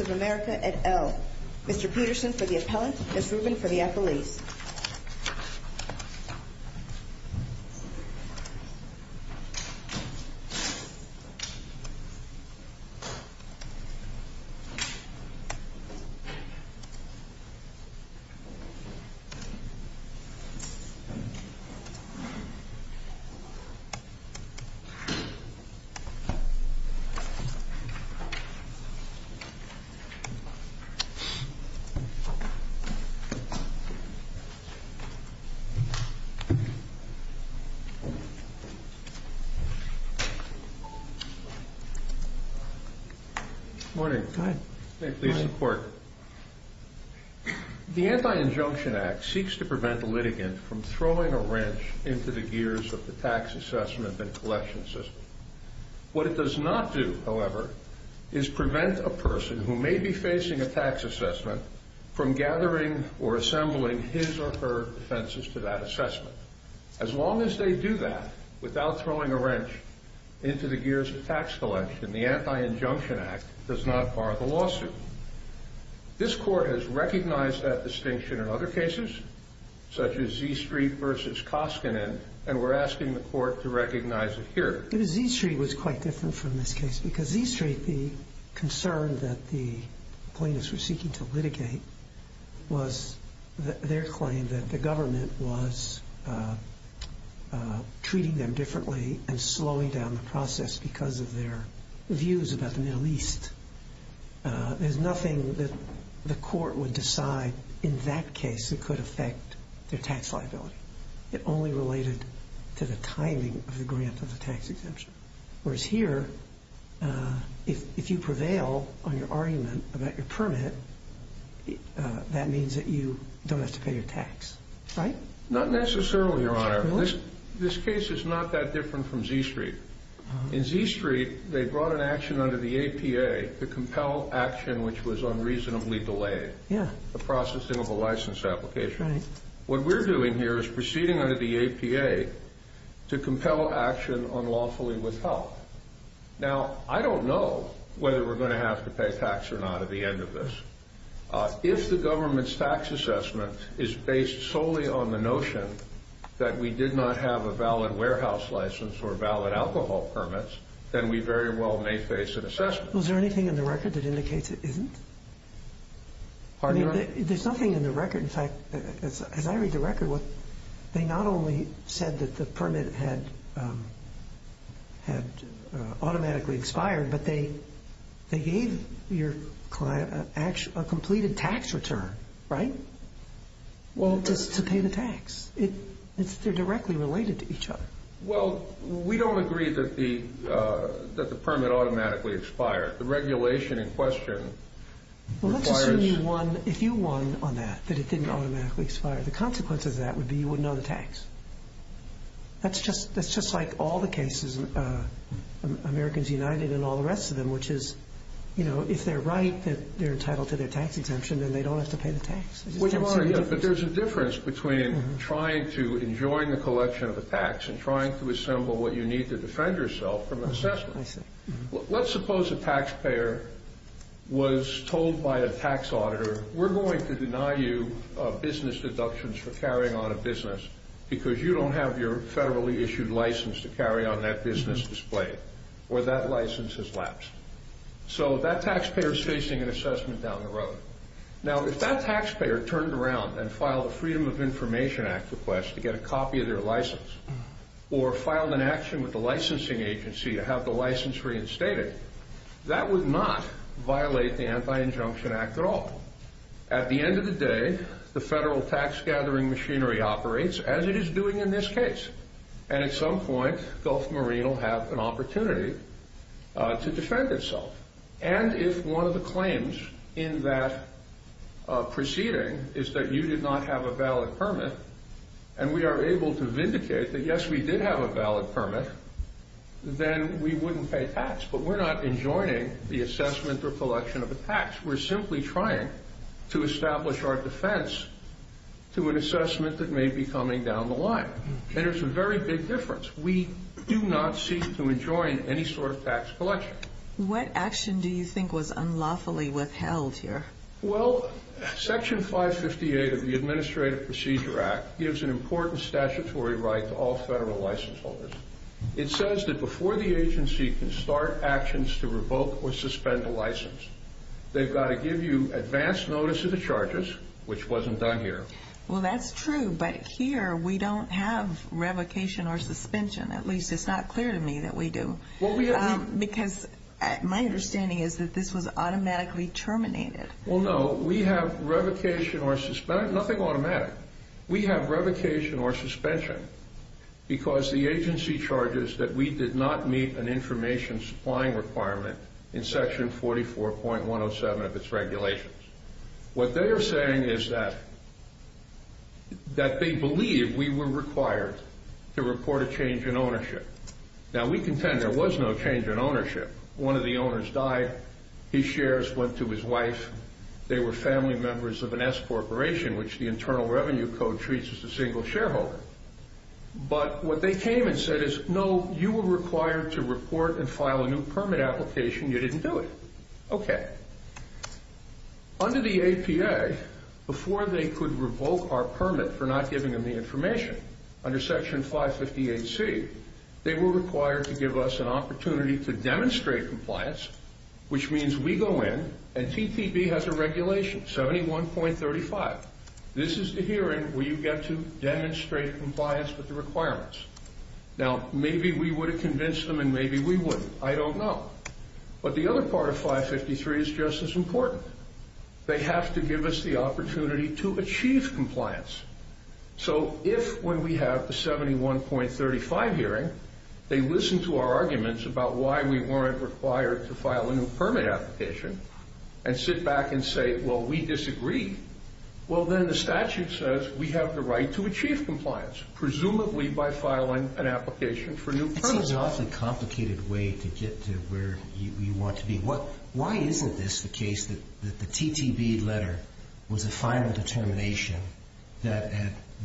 of America, et al. Mr. Peterson for the appellant, Ms. Rubin for the appellees. Good morning. May it please the Court. The Anti-Injunction Act seeks to prevent a litigant from throwing a wrench into the gears of the tax assessment and collection system. What it does not do, however, is prevent a person who may be facing a tax assessment from gathering or assembling his or her defenses to that assessment. As long as they do that, without throwing a wrench into the gears of tax collection, the Anti-Injunction Act does not bar the lawsuit. This Court has recognized that distinction in other cases, such as Z Street v. Koskinen, and we're asking the Court to recognize it here. Z Street was quite different from this case, because Z Street, the concern that the plaintiffs were seeking to litigate was their claim that the government was treating them differently and slowing down the process because of their views about the Middle East. There's nothing that the Court would decide in that case that could affect their tax liability. It only related to the timing of the grant of the tax exemption. Whereas here, if you prevail on your argument about your permit, that means that you don't have to pay your tax, right? Not necessarily, Your Honor. This case is not that different from Z Street. In Z Street, they brought an action under the APA to compel action which was unreasonably delayed. The processing of a license application. What we're doing here is proceeding under the APA to compel action unlawfully with help. Now, I don't know whether we're going to have to pay tax or not at the end of this. If the government's tax assessment is based solely on the notion that we did not have a valid warehouse license or valid alcohol permits, then we very well may face an assessment. Was there anything in the record that indicates it isn't? Pardon me, Your Honor? There's nothing in the record. In fact, as I read the record, they not only said that the permit had automatically expired, but they gave your client a completed tax return, right? Well, just to pay the tax. They're directly related to each other. Well, we don't agree that the permit automatically expired. The regulation in question requires... Well, let's assume you won, if you won on that, that it didn't automatically expire. The consequence of that would be you wouldn't owe the tax. That's just like all the cases, Americans United and all the rest of them, which is, you know, if they're right that they're entitled to their tax exemption, then they don't have to pay the tax. But Your Honor, there's a difference between trying to enjoy the collection of the tax and trying to assemble what you need to defend yourself from an assessment. Let's suppose a taxpayer was told by a tax auditor, we're going to deny you business deductions for carrying on a business because you don't have your federally issued license to carry on that business display or that license has lapsed. So that taxpayer is facing an assessment down the road. Now, if that taxpayer turned around and filed a Freedom of Information Act request to get a copy of their license or filed an action with the licensing agency to have the license reinstated, that would not violate the Anti-Injunction Act at all. At the end of the day, the federal tax gathering machinery operates as it is doing in this case. And at some point, Gulf Marine will have an opportunity to defend itself. And if one of the claims in that proceeding is that you did not have a valid permit, and we are able to vindicate that, yes, we did have a valid permit, then we wouldn't pay tax. But we're not enjoining the assessment or collection of the tax. We're simply trying to establish our defense to an assessment that may be coming down the line. And there's a very big difference. We do not seek to enjoin any sort of tax collection. What action do you think was unlawfully withheld here? Well, Section 558 of the Administrative Procedure Act gives an important statutory right to all federal license holders. It says that before the agency can start actions to revoke or suspend a license, they've got to give you advance notice of the charges, which wasn't done here. Well, that's true. But here, we don't have revocation or suspension. At least it's not clear to me that we do. Because my understanding is that this was automatically terminated. Well, no. We have revocation or suspension. Nothing automatic. We have revocation or suspension because the agency charges that we did not meet an information supplying requirement in Section 144.107 of its regulations. What they are saying is that they believe we were required to report a change in ownership. Now, we contend there was no change in ownership. One of the owners died. His shares went to his wife. They were family members of an S corporation, which the Internal Revenue Code treats as a single shareholder. But what they came and said is, no, you were okay. Under the APA, before they could revoke our permit for not giving them the information under Section 550AC, they were required to give us an opportunity to demonstrate compliance, which means we go in and TTB has a regulation, 71.35. This is the hearing where you get to demonstrate compliance with the requirements. Now, maybe we would have convinced them and maybe we wouldn't. I don't know. But the other part of 553 is just as important. They have to give us the opportunity to achieve compliance. So if when we have the 71.35 hearing, they listen to our arguments about why we weren't required to file a new permit application and sit back and say, well, we disagree. Well, then the statute says we have the right to achieve compliance, presumably by filing an application for new permits. It seems an awfully complicated way to get to where you want to be. Why isn't this the case that the TTB letter was a final determination that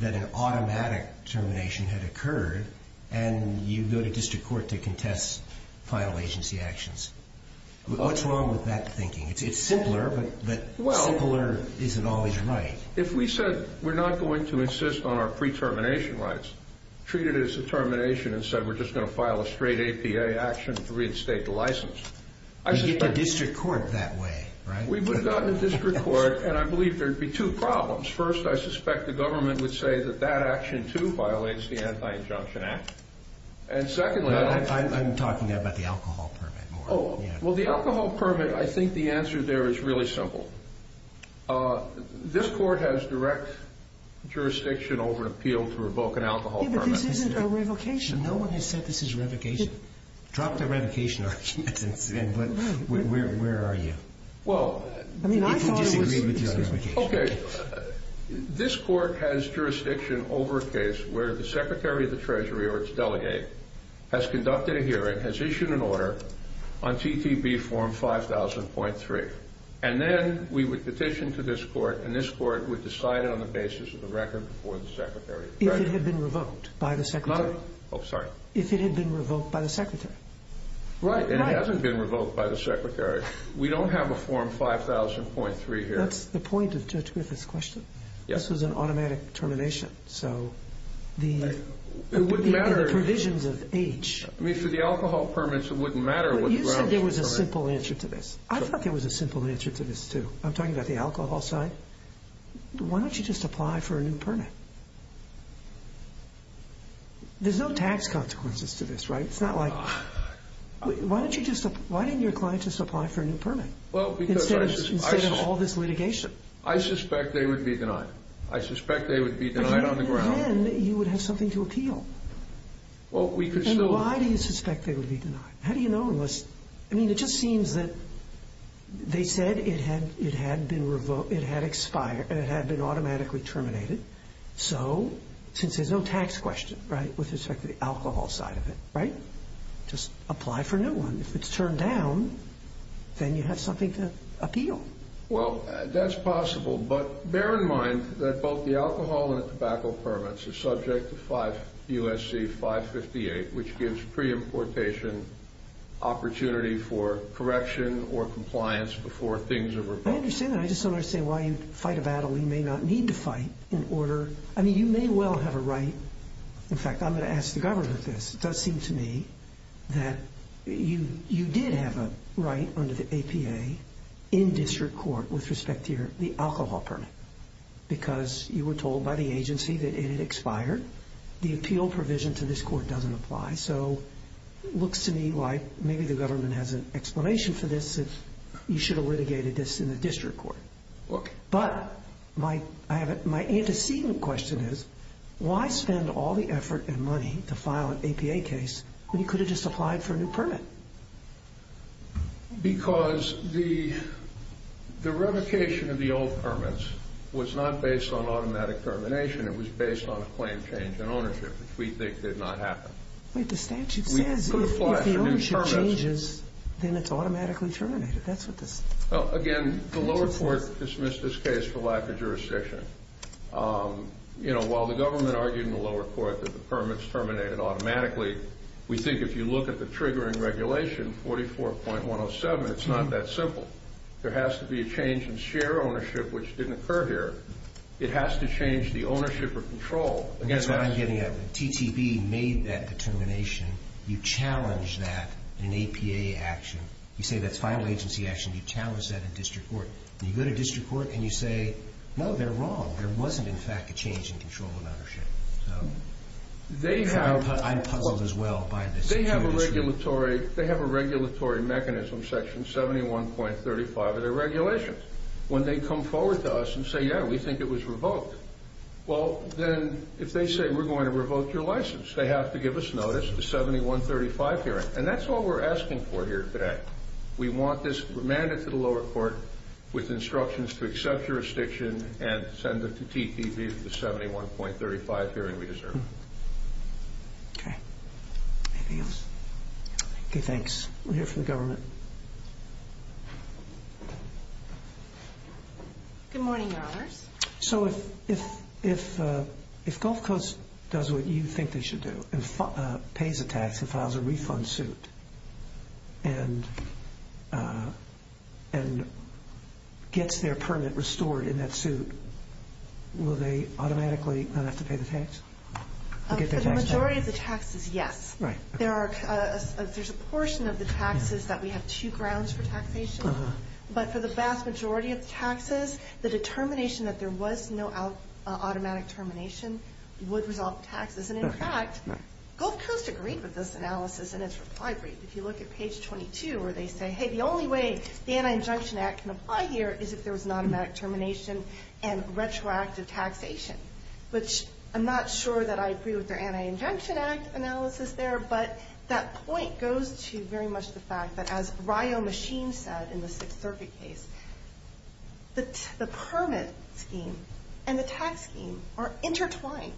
an automatic termination had occurred, and you go to district court to contest final agency actions? What's wrong with that thinking? It's simpler, but simpler isn't always right. If we said we're not going to insist on our pre-termination rights, treat it as a termination, and said we're just going to file a straight APA action to reinstate the license. You'd get to district court that way, right? We would have gotten to district court, and I believe there'd be two problems. First, I suspect the government would say that that action, too, violates the Anti-Injunction Act. And secondly... I'm talking about the alcohol permit. Oh, well, the alcohol permit, I think the answer there is really simple. This court has direct jurisdiction over an appeal to revoke an alcohol permit. Yeah, but this isn't a revocation. No one has said this is revocation. Drop the revocation argument, but where are you? People disagree with your revocation. Okay, this court has jurisdiction over a case where the Secretary of the Treasury or its delegate has conducted a hearing, has issued an order on TTB form 5000.3, and then we would petition to this court, and this court would decide it on the basis of the record before the Secretary. If it had been revoked by the Secretary. Oh, sorry. If it had been revoked by the Secretary. Right, and it hasn't been revoked by the Secretary. We don't have a form 5000.3 here. That's the point of touch with this question. This was an You said there was a simple answer to this. I thought there was a simple answer to this, too. I'm talking about the alcohol side. Why don't you just apply for a new permit? There's no tax consequences to this, right? It's not like... Why didn't your client just apply for a new permit instead of all this litigation? I suspect they would be denied. I suspect they would be denied on the ground. You would have something to appeal. Why do you suspect they would be denied? How do you know unless... I mean, it just seems that they said it had been revoked, it had expired, and it had been automatically terminated. So, since there's no tax question, right, with respect to the alcohol side of it, right? Just apply for a new one. If it's turned down, then you have something to appeal. Well, that's possible, but bear in mind that both the alcohol and the tobacco permits are subject to USC 558, which gives pre-importation opportunity for correction or compliance before things are revoked. I understand that. I just don't understand why you fight a battle you may not need to fight in order... I mean, you may well have a right... In fact, I'm going to ask the government this. It does seem to me that you did have a right under the APA in district court with respect to the alcohol permit because you were told by the agency that it had expired. The appeal provision to this court doesn't apply. So, it looks to me like maybe the government has an explanation for this that you should have litigated this in the district court. Okay. But my antecedent question is why spend all the effort and money to file an APA case when you could have just applied for a new permit? Because the revocation of the old permits was not based on automatic termination. It was based on a claim change in ownership, which we think did not happen. Wait, the statute says if the ownership changes, then it's automatically terminated. That's what this... Well, again, the lower court dismissed this case for lack of jurisdiction. While the government argued in the lower court that the We think if you look at the triggering regulation, 44.107, it's not that simple. There has to be a change in share ownership, which didn't occur here. It has to change the ownership or control. That's what I'm getting at. The TTV made that determination. You challenge that in APA action. You say that's final agency action. You challenge that in district court. You go to district court and you say, no, they're wrong. There wasn't, in fact, a change in control of ownership. I'm puzzled as well by this. They have a regulatory mechanism, section 71.35 of their regulations. When they come forward to us and say, yeah, we think it was revoked. Well, then if they say we're going to revoke your license, they have to give us notice, the 71.35 hearing. That's all we're asking for here today. We want this remanded to the lower court with instructions to accept jurisdiction and send it to TTV for the 71.35 hearing we deserve. Okay. Anything else? Okay, thanks. We're here for the government. Good morning, your honors. So if Gulf Coast does what you think they should do and pays a tax and and gets their permit restored in that suit, will they automatically not have to pay the tax? For the majority of the taxes, yes. There's a portion of the taxes that we have two grounds for taxation. But for the vast majority of taxes, the determination that there was no automatic termination would resolve taxes. And in fact, Gulf Coast agreed with this analysis in its reply brief. If you look at page 22, where they say, hey, the only way the Anti-Injunction Act can apply here is if there was an automatic termination and retroactive taxation, which I'm not sure that I agree with their Anti-Injunction Act analysis there. But that point goes to very much the fact that as Ryo Machin said in the Sixth Circuit case, the permit scheme and the tax scheme are intertwined.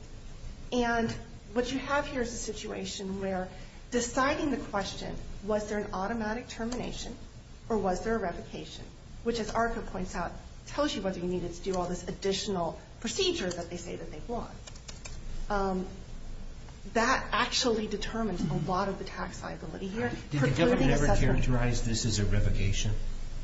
And what you have here is a situation where deciding the question, was there an automatic termination or was there a revocation, which as ARCA points out, tells you whether you needed to do all this additional procedure that they say that they want. That actually determines a lot of the tax liability here. Did the government ever characterize this as a revocation?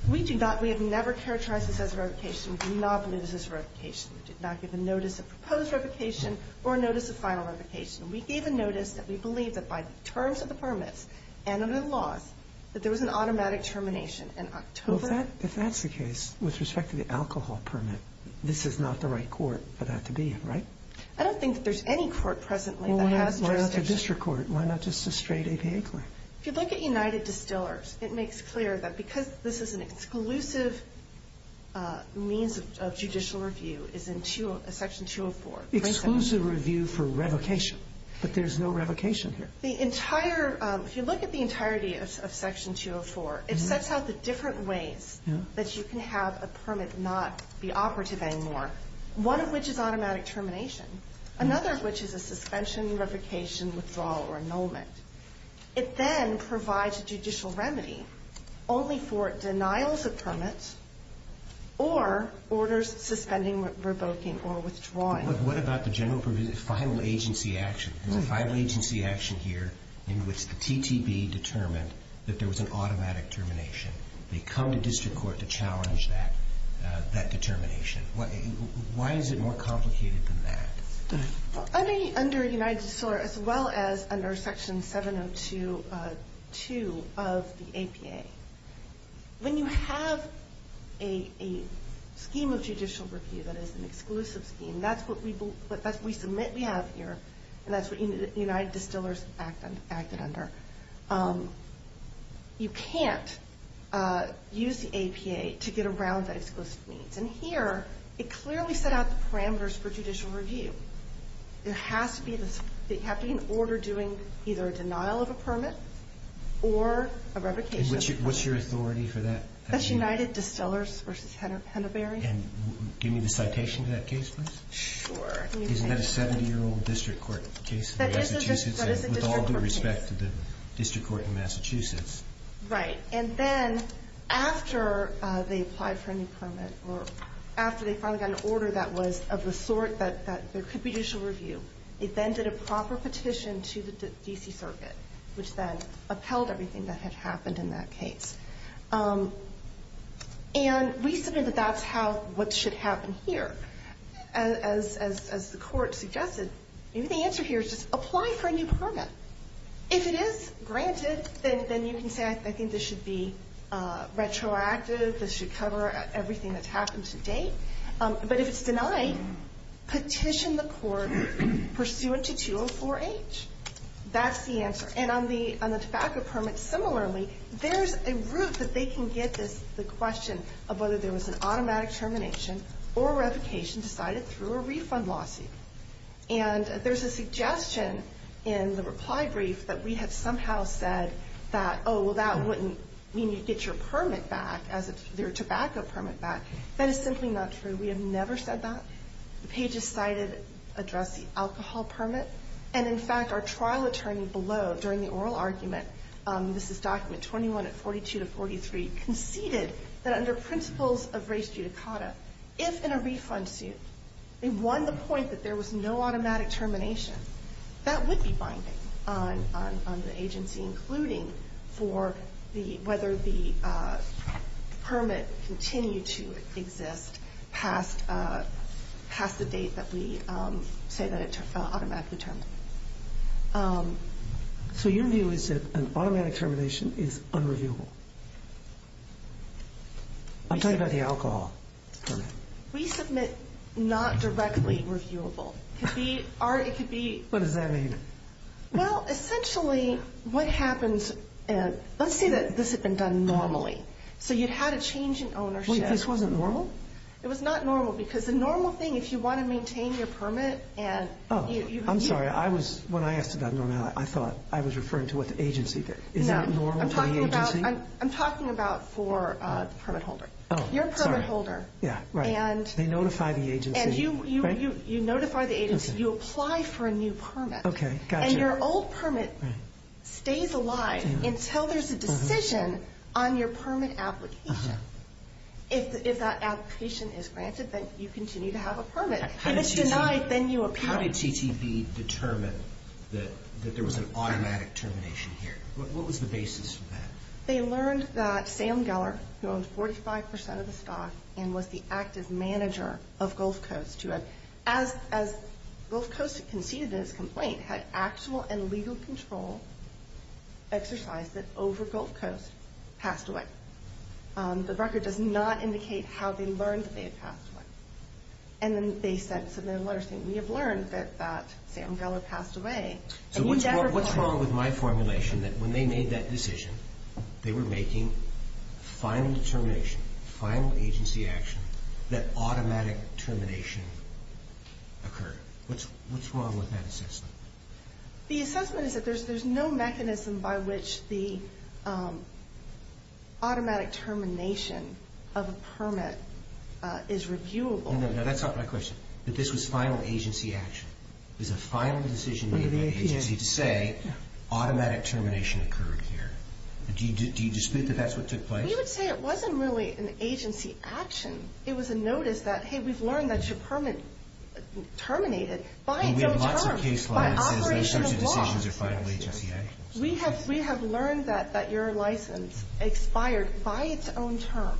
We do not. We have never characterized this as a revocation. We do not believe this is a revocation. We did not give a notice of proposed revocation or a notice of final revocation. We gave a notice that we believe that by the terms of the permits and under the laws, that there was an automatic termination in October. If that's the case, with respect to the alcohol permit, this is not the right court for that to be, right? I don't think that there's any court presently that has jurisdiction. Why not a district court? Why not just a straight APA court? If you look at United Distillers, it makes clear that this is an exclusive means of judicial review is in Section 204. Exclusive review for revocation, but there's no revocation here. The entire, if you look at the entirety of Section 204, it sets out the different ways that you can have a permit not be operative anymore, one of which is automatic termination, another of which is a suspension, revocation, withdrawal, or annulment. It then provides a judicial remedy only for denials of permits or orders suspending, revoking, or withdrawing. But what about the general final agency action? There's a final agency action here in which the TTB determined that there was an automatic termination. They come to district court to challenge that determination. Why is it more important? As well as under Section 702 of the APA, when you have a scheme of judicial review that is an exclusive scheme, that's what we submit we have here, and that's what United Distillers acted under. You can't use the APA to get around that exclusive means. And here, it clearly set out the parameters for judicial review. It has to be an order doing either a denial of a permit or a revocation. What's your authority for that? That's United Distillers versus Henderberry. Give me the citation of that case, please. Sure. Isn't that a 70-year-old district court case? That is a district court case. With all due respect to the order that was of the sort that there could be judicial review. It then did a proper petition to the D.C. Circuit, which then upheld everything that had happened in that case. And we submit that that's what should happen here. As the court suggested, maybe the answer here is just apply for a new permit. If it is granted, then you can say I think this should be but if it's denied, petition the court pursuant to 204-H. That's the answer. And on the tobacco permit, similarly, there's a route that they can get the question of whether there was an automatic termination or revocation decided through a refund lawsuit. And there's a suggestion in the reply brief that we had somehow said that, oh, well, that wouldn't mean you'd get your permit back, your tobacco permit back. That is simply not true. We have never said that. The pages cited address the alcohol permit. And in fact, our trial attorney below during the oral argument, this is document 21 at 42 to 43, conceded that under principles of res judicata, if in a refund suit they won the point that there was no automatic termination, that would be binding on the agency, including for whether the permit continued to exist past the date that we say that it automatically terminated. So your view is that an automatic termination is unreviewable? I'm talking about the alcohol permit. We submit not directly reviewable. It could be. What does that mean? Well, essentially what happens, let's say that this had been done normally. So you'd had a change in ownership. Wait, this wasn't normal? It was not normal because the normal thing, if you want to maintain your permit and. Oh, I'm sorry. I was, when I asked about normality, I thought I was referring to what the agency did. Is that normal for the agency? I'm talking about for the permit holder, your permit holder. They notify the agency. You notify the agency, you apply for a new permit. And your old permit stays alive until there's a decision on your permit application. If that application is granted, then you continue to have a permit. If it's denied, then you appeal. How did CTV determine that there was an automatic termination here? What was the and was the active manager of Gulf Coast who had, as Gulf Coast conceded in his complaint, had actual and legal control exercise that over Gulf Coast passed away. The record does not indicate how they learned that they had passed away. And then they sent some of their letters saying we have learned that Sam Geller passed away. So what's wrong with my formulation that they made that decision, they were making final determination, final agency action, that automatic termination occurred. What's wrong with that assessment? The assessment is that there's no mechanism by which the automatic termination of a permit is reviewable. No, that's not my question. That this was final agency action. It was a final decision made by the agency to say automatic termination occurred here. Do you dispute that that's what took place? We would say it wasn't really an agency action. It was a notice that, hey, we've learned that your permit terminated by its own terms. And we have lots of case law that says those sorts of decisions are final agency actions. We have learned that your license expired by its own terms.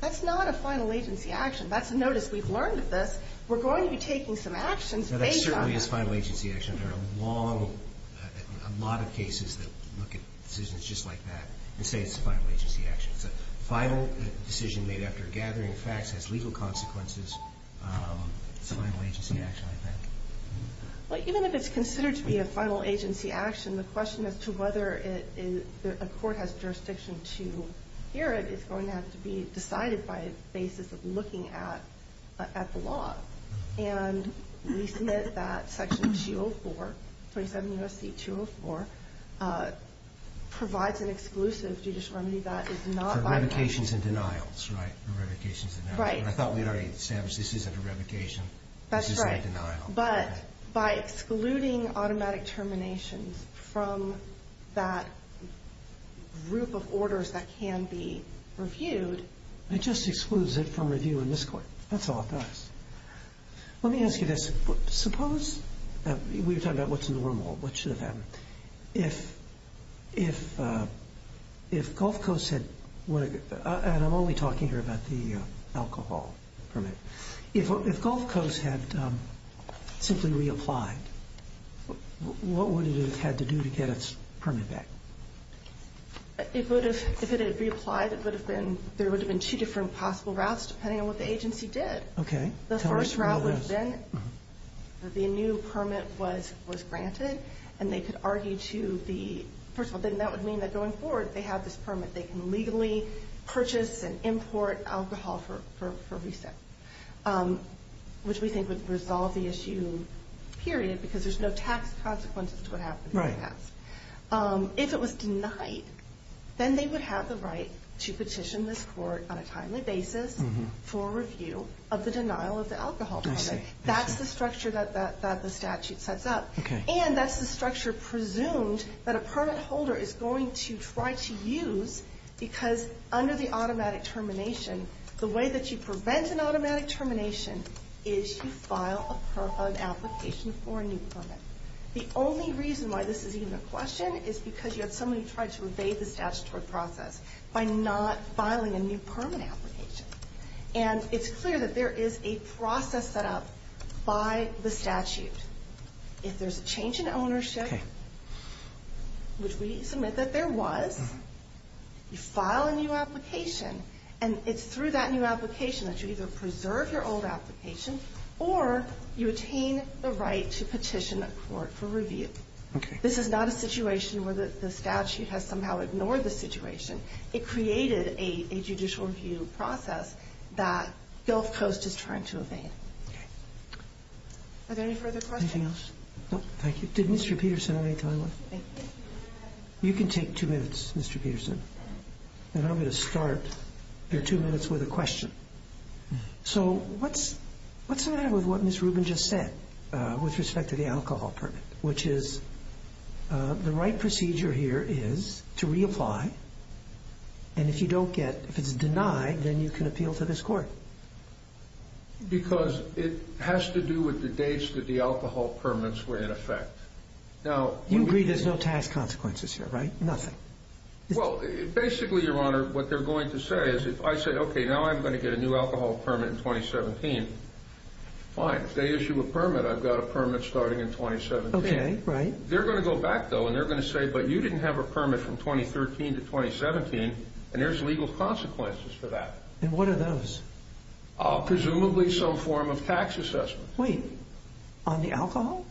That's not a final agency action. That's a notice we've learned this. We're going to be taking some actions based on that. That certainly is final agency action. There are a lot of cases that look at decisions just like that and say it's a final agency action. It's a final decision made after gathering facts has legal consequences. It's a final agency action, I think. Well, even if it's considered to be a final agency action, the question as to whether a court has jurisdiction to hear it is going to have to be decided by a basis of looking at the law. And we submit that Section 204, 27 U.S.C. 204, provides an exclusive judicial remedy that is not... For revocations and denials, right? For revocations and denials. Right. And I thought we'd already established this isn't a revocation. This is a denial. That's right. But by excluding automatic terminations from that group of orders that can be reviewed... It just excludes it from review in this court. That's all it does. Let me ask you this. Suppose... We were talking about what's normal, what should have happened. If Gulf Coast had... And I'm only talking here about the alcohol permit. If Gulf Coast had simply reapplied, what would it have had to do to get its permit back? If it had reapplied, there would have been two different possible routes, depending on what the agency did. Okay. The first route would have been that the new permit was granted, and they could argue to the... First of all, then that would mean that going forward, they have this permit. They can legally purchase and import alcohol for reset, which we think would resolve the issue, period, because there's no tax consequences to what happened in the past. Right. If it was denied, then they would have the right to petition this on a timely basis for review of the denial of the alcohol permit. I see. That's the structure that the statute sets up. Okay. And that's the structure presumed that a permit holder is going to try to use, because under the automatic termination, the way that you prevent an automatic termination is you file an application for a new permit. The only reason why this is even a question is because you have somebody who tried to evade the statutory process by not filing a new permit application. And it's clear that there is a process set up by the statute. If there's a change in ownership, which we submit that there was, you file a new application, and it's through that new application that you either preserve your old application, or you attain the right to petition a court for review. Okay. This is not a situation where the statute has somehow ignored the situation. It created a judicial review process that Gulf Coast is trying to evade. Are there any further questions? Anything else? No, thank you. Did Mr. Peterson have any time left? You can take two minutes, Mr. Peterson. And I'm going to start your two minutes with a question. So, what's the matter with what Ms. Rubin just said with respect to the alcohol permit? Which is the right procedure here is to reapply. And if you don't get, if it's denied, then you can appeal to this court. Because it has to do with the dates that the alcohol permits were in effect. Now, you agree there's no tax consequences here, right? Nothing. Well, basically, Your Honor, what I'm going to get a new alcohol permit in 2017. Fine. If they issue a permit, I've got a permit starting in 2017. Okay. Right. They're going to go back, though, and they're going to say, but you didn't have a permit from 2013 to 2017, and there's legal consequences for that. And what are those? Presumably, some form of tax assessment. Wait. On the alcohol?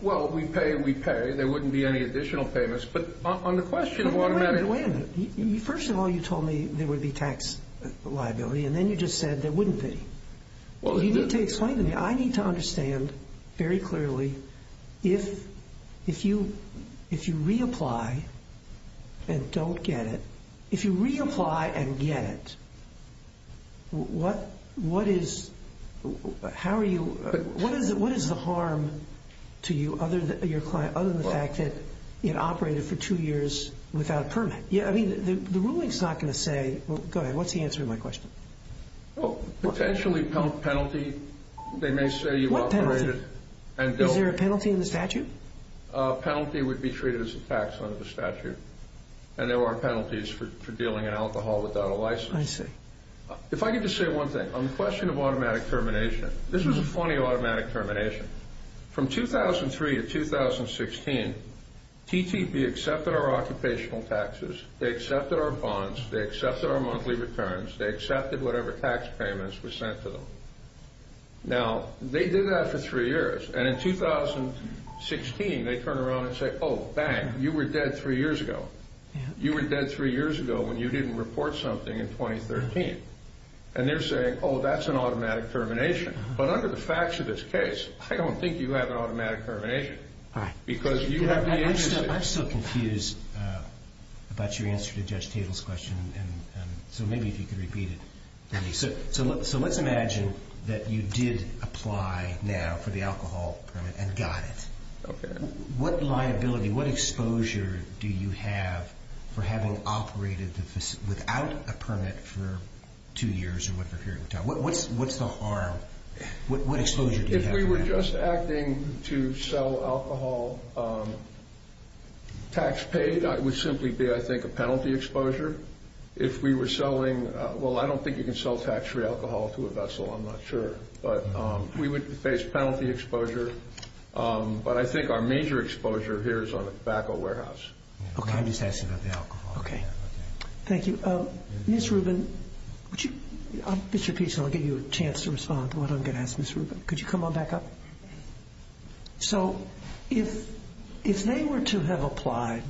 Well, we pay, we pay. There wouldn't be any additional payments. But on the question of automatic... Wait a minute. First of all, you told me there would be tax liability, and then you just said there wouldn't be. Well, you didn't... You need to explain to me. I need to understand very clearly, if you reapply and don't get it, if you reapply and get it, what is... How are you... What is the harm to you other than your client, other than the fact that it operated for two years without permit? Yeah. I mean, the ruling's not going to say... Go ahead. What's the answer to my question? Well, potentially penalty. They may say you operated... What penalty? Is there a penalty in the statute? A penalty would be treated as a tax under the statute, and there are penalties for dealing in alcohol without a license. I see. If I could just say one thing. On the question of automatic termination, this was a funny automatic termination. From 2003 to 2016, TTP accepted our occupational taxes, they accepted our bonds, they accepted our monthly returns, they accepted whatever tax payments were sent to them. Now, they did that for three years, and in 2016, they turn around and say, oh, bang, you were dead three years ago. You were dead three years ago when you didn't report something in 2013. And they're saying, oh, that's an automatic termination. But under the facts of this case, I don't think you have an automatic termination. Because you have to be interested... I'm still confused about your answer to Judge Tatel's question, and so maybe if you could repeat it. So let's imagine that you did apply now for the alcohol permit and got it. Okay. What liability, what exposure do you have for having operated without a permit for two years or whatever period of time? What's the harm? What exposure do you have? If we were just acting to sell alcohol tax-paid, it would simply be, I think, a penalty exposure. If we were selling... Well, I don't think you can sell tax-free alcohol to a vessel, I'm not sure. But we would face penalty exposure. But I think our major exposure here is on the tobacco warehouse. Okay. I'm just asking about the alcohol. Okay. Thank you. Ms. Rubin, would you... Mr. Peterson, I'll give you a chance to respond to what I'm going to ask Ms. Rubin. Could you come on back up? So if they were to have applied,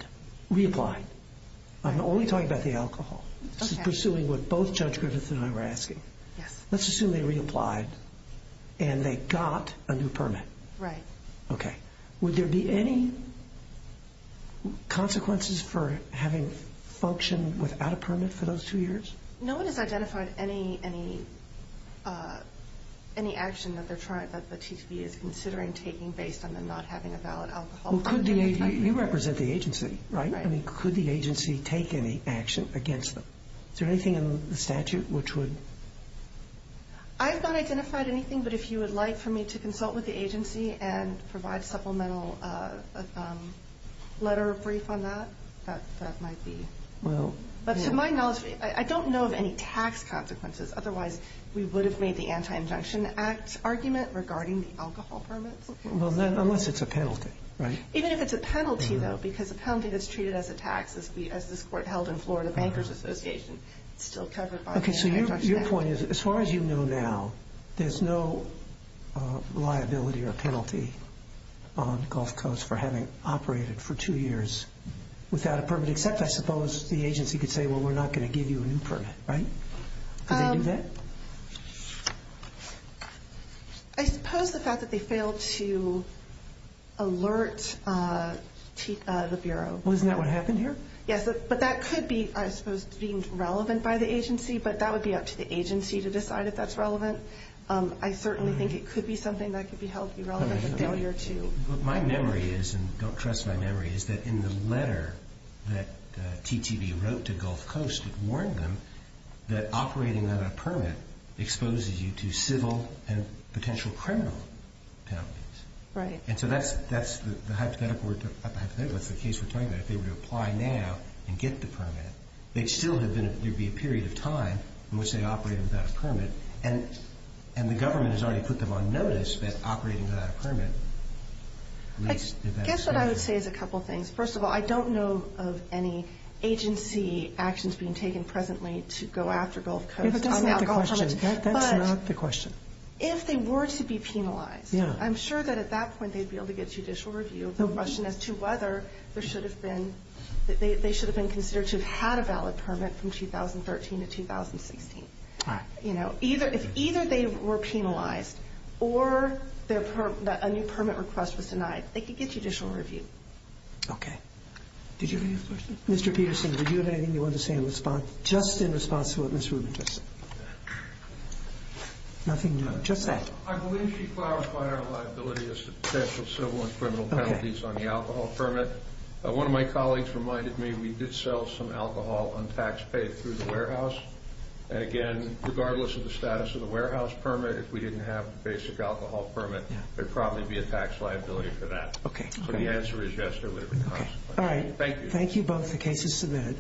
reapplied, I'm only talking about the alcohol. Okay. This is pursuing what both Judge Griffith and I were asking. Yes. Let's assume they reapplied and they got a new permit. Right. Okay. Would there be any consequences for having functioned without a permit for those two years? No one has identified any action that they're that the TTV is considering taking based on them not having a valid alcohol permit. You represent the agency, right? Right. I mean, could the agency take any action against them? Is there anything in the statute which would... I have not identified anything. But if you would like for me to consult with the agency and provide supplemental letter of brief on that, that might be... Well... But to my knowledge, I don't know of any tax consequences. Otherwise, we would have made the Anti-Injunction Act argument regarding the alcohol permits. Well, unless it's a penalty, right? Even if it's a penalty, though, because a penalty that's treated as a tax, as this court held in Florida Bankers Association, it's still covered by the Anti-Injunction Act. Okay. So your point is, as far as you know now, there's no liability or penalty on Gulf Coast for having operated for two years without a permit, except I suppose the agency could say, well, we're not going to give you a new permit, right? Could they do that? I suppose the fact that they failed to alert the Bureau... Well, isn't that what happened here? Yes. But that could be, I suppose, deemed relevant by the agency. But that would be up to the agency to decide if that's relevant. I certainly think it could be something that could be held irrelevant and failure to... My memory is, and don't trust my memory, is that in the letter that TTV wrote to Gulf Coast, it warned them that operating without a permit exposes you to civil and potential criminal penalties. Right. And so that's the hypothetical. That's the case we're talking about. If they were to apply now and get the permit, there'd still be a period of time in which they operated without a permit. And the government has already put them on notice that operating without a permit did that. I guess what I would say is a couple of things. First of all, I don't know of any agency actions being taken presently to go after Gulf Coast on the alcohol permit. That's not the question. If they were to be penalized, I'm sure that at that point they'd be able to get judicial review of the question as to whether they should have been considered to have had a valid permit from They could get judicial review. Okay. Did you have a question? Mr. Peterson, did you have anything you wanted to say in response? Just in response to what Ms. Rubin just... Nothing new. Just that. I believe she clarifies our liability as to potential civil and criminal penalties on the alcohol permit. One of my colleagues reminded me we did sell some alcohol untaxed paid through the warehouse. And again, regardless of the status of the warehouse permit, if we didn't have a basic alcohol permit, there'd probably be a tax liability for that. Okay. So the answer is yes, there would be consequences. All right. Thank you. Thank you both. The case is submitted.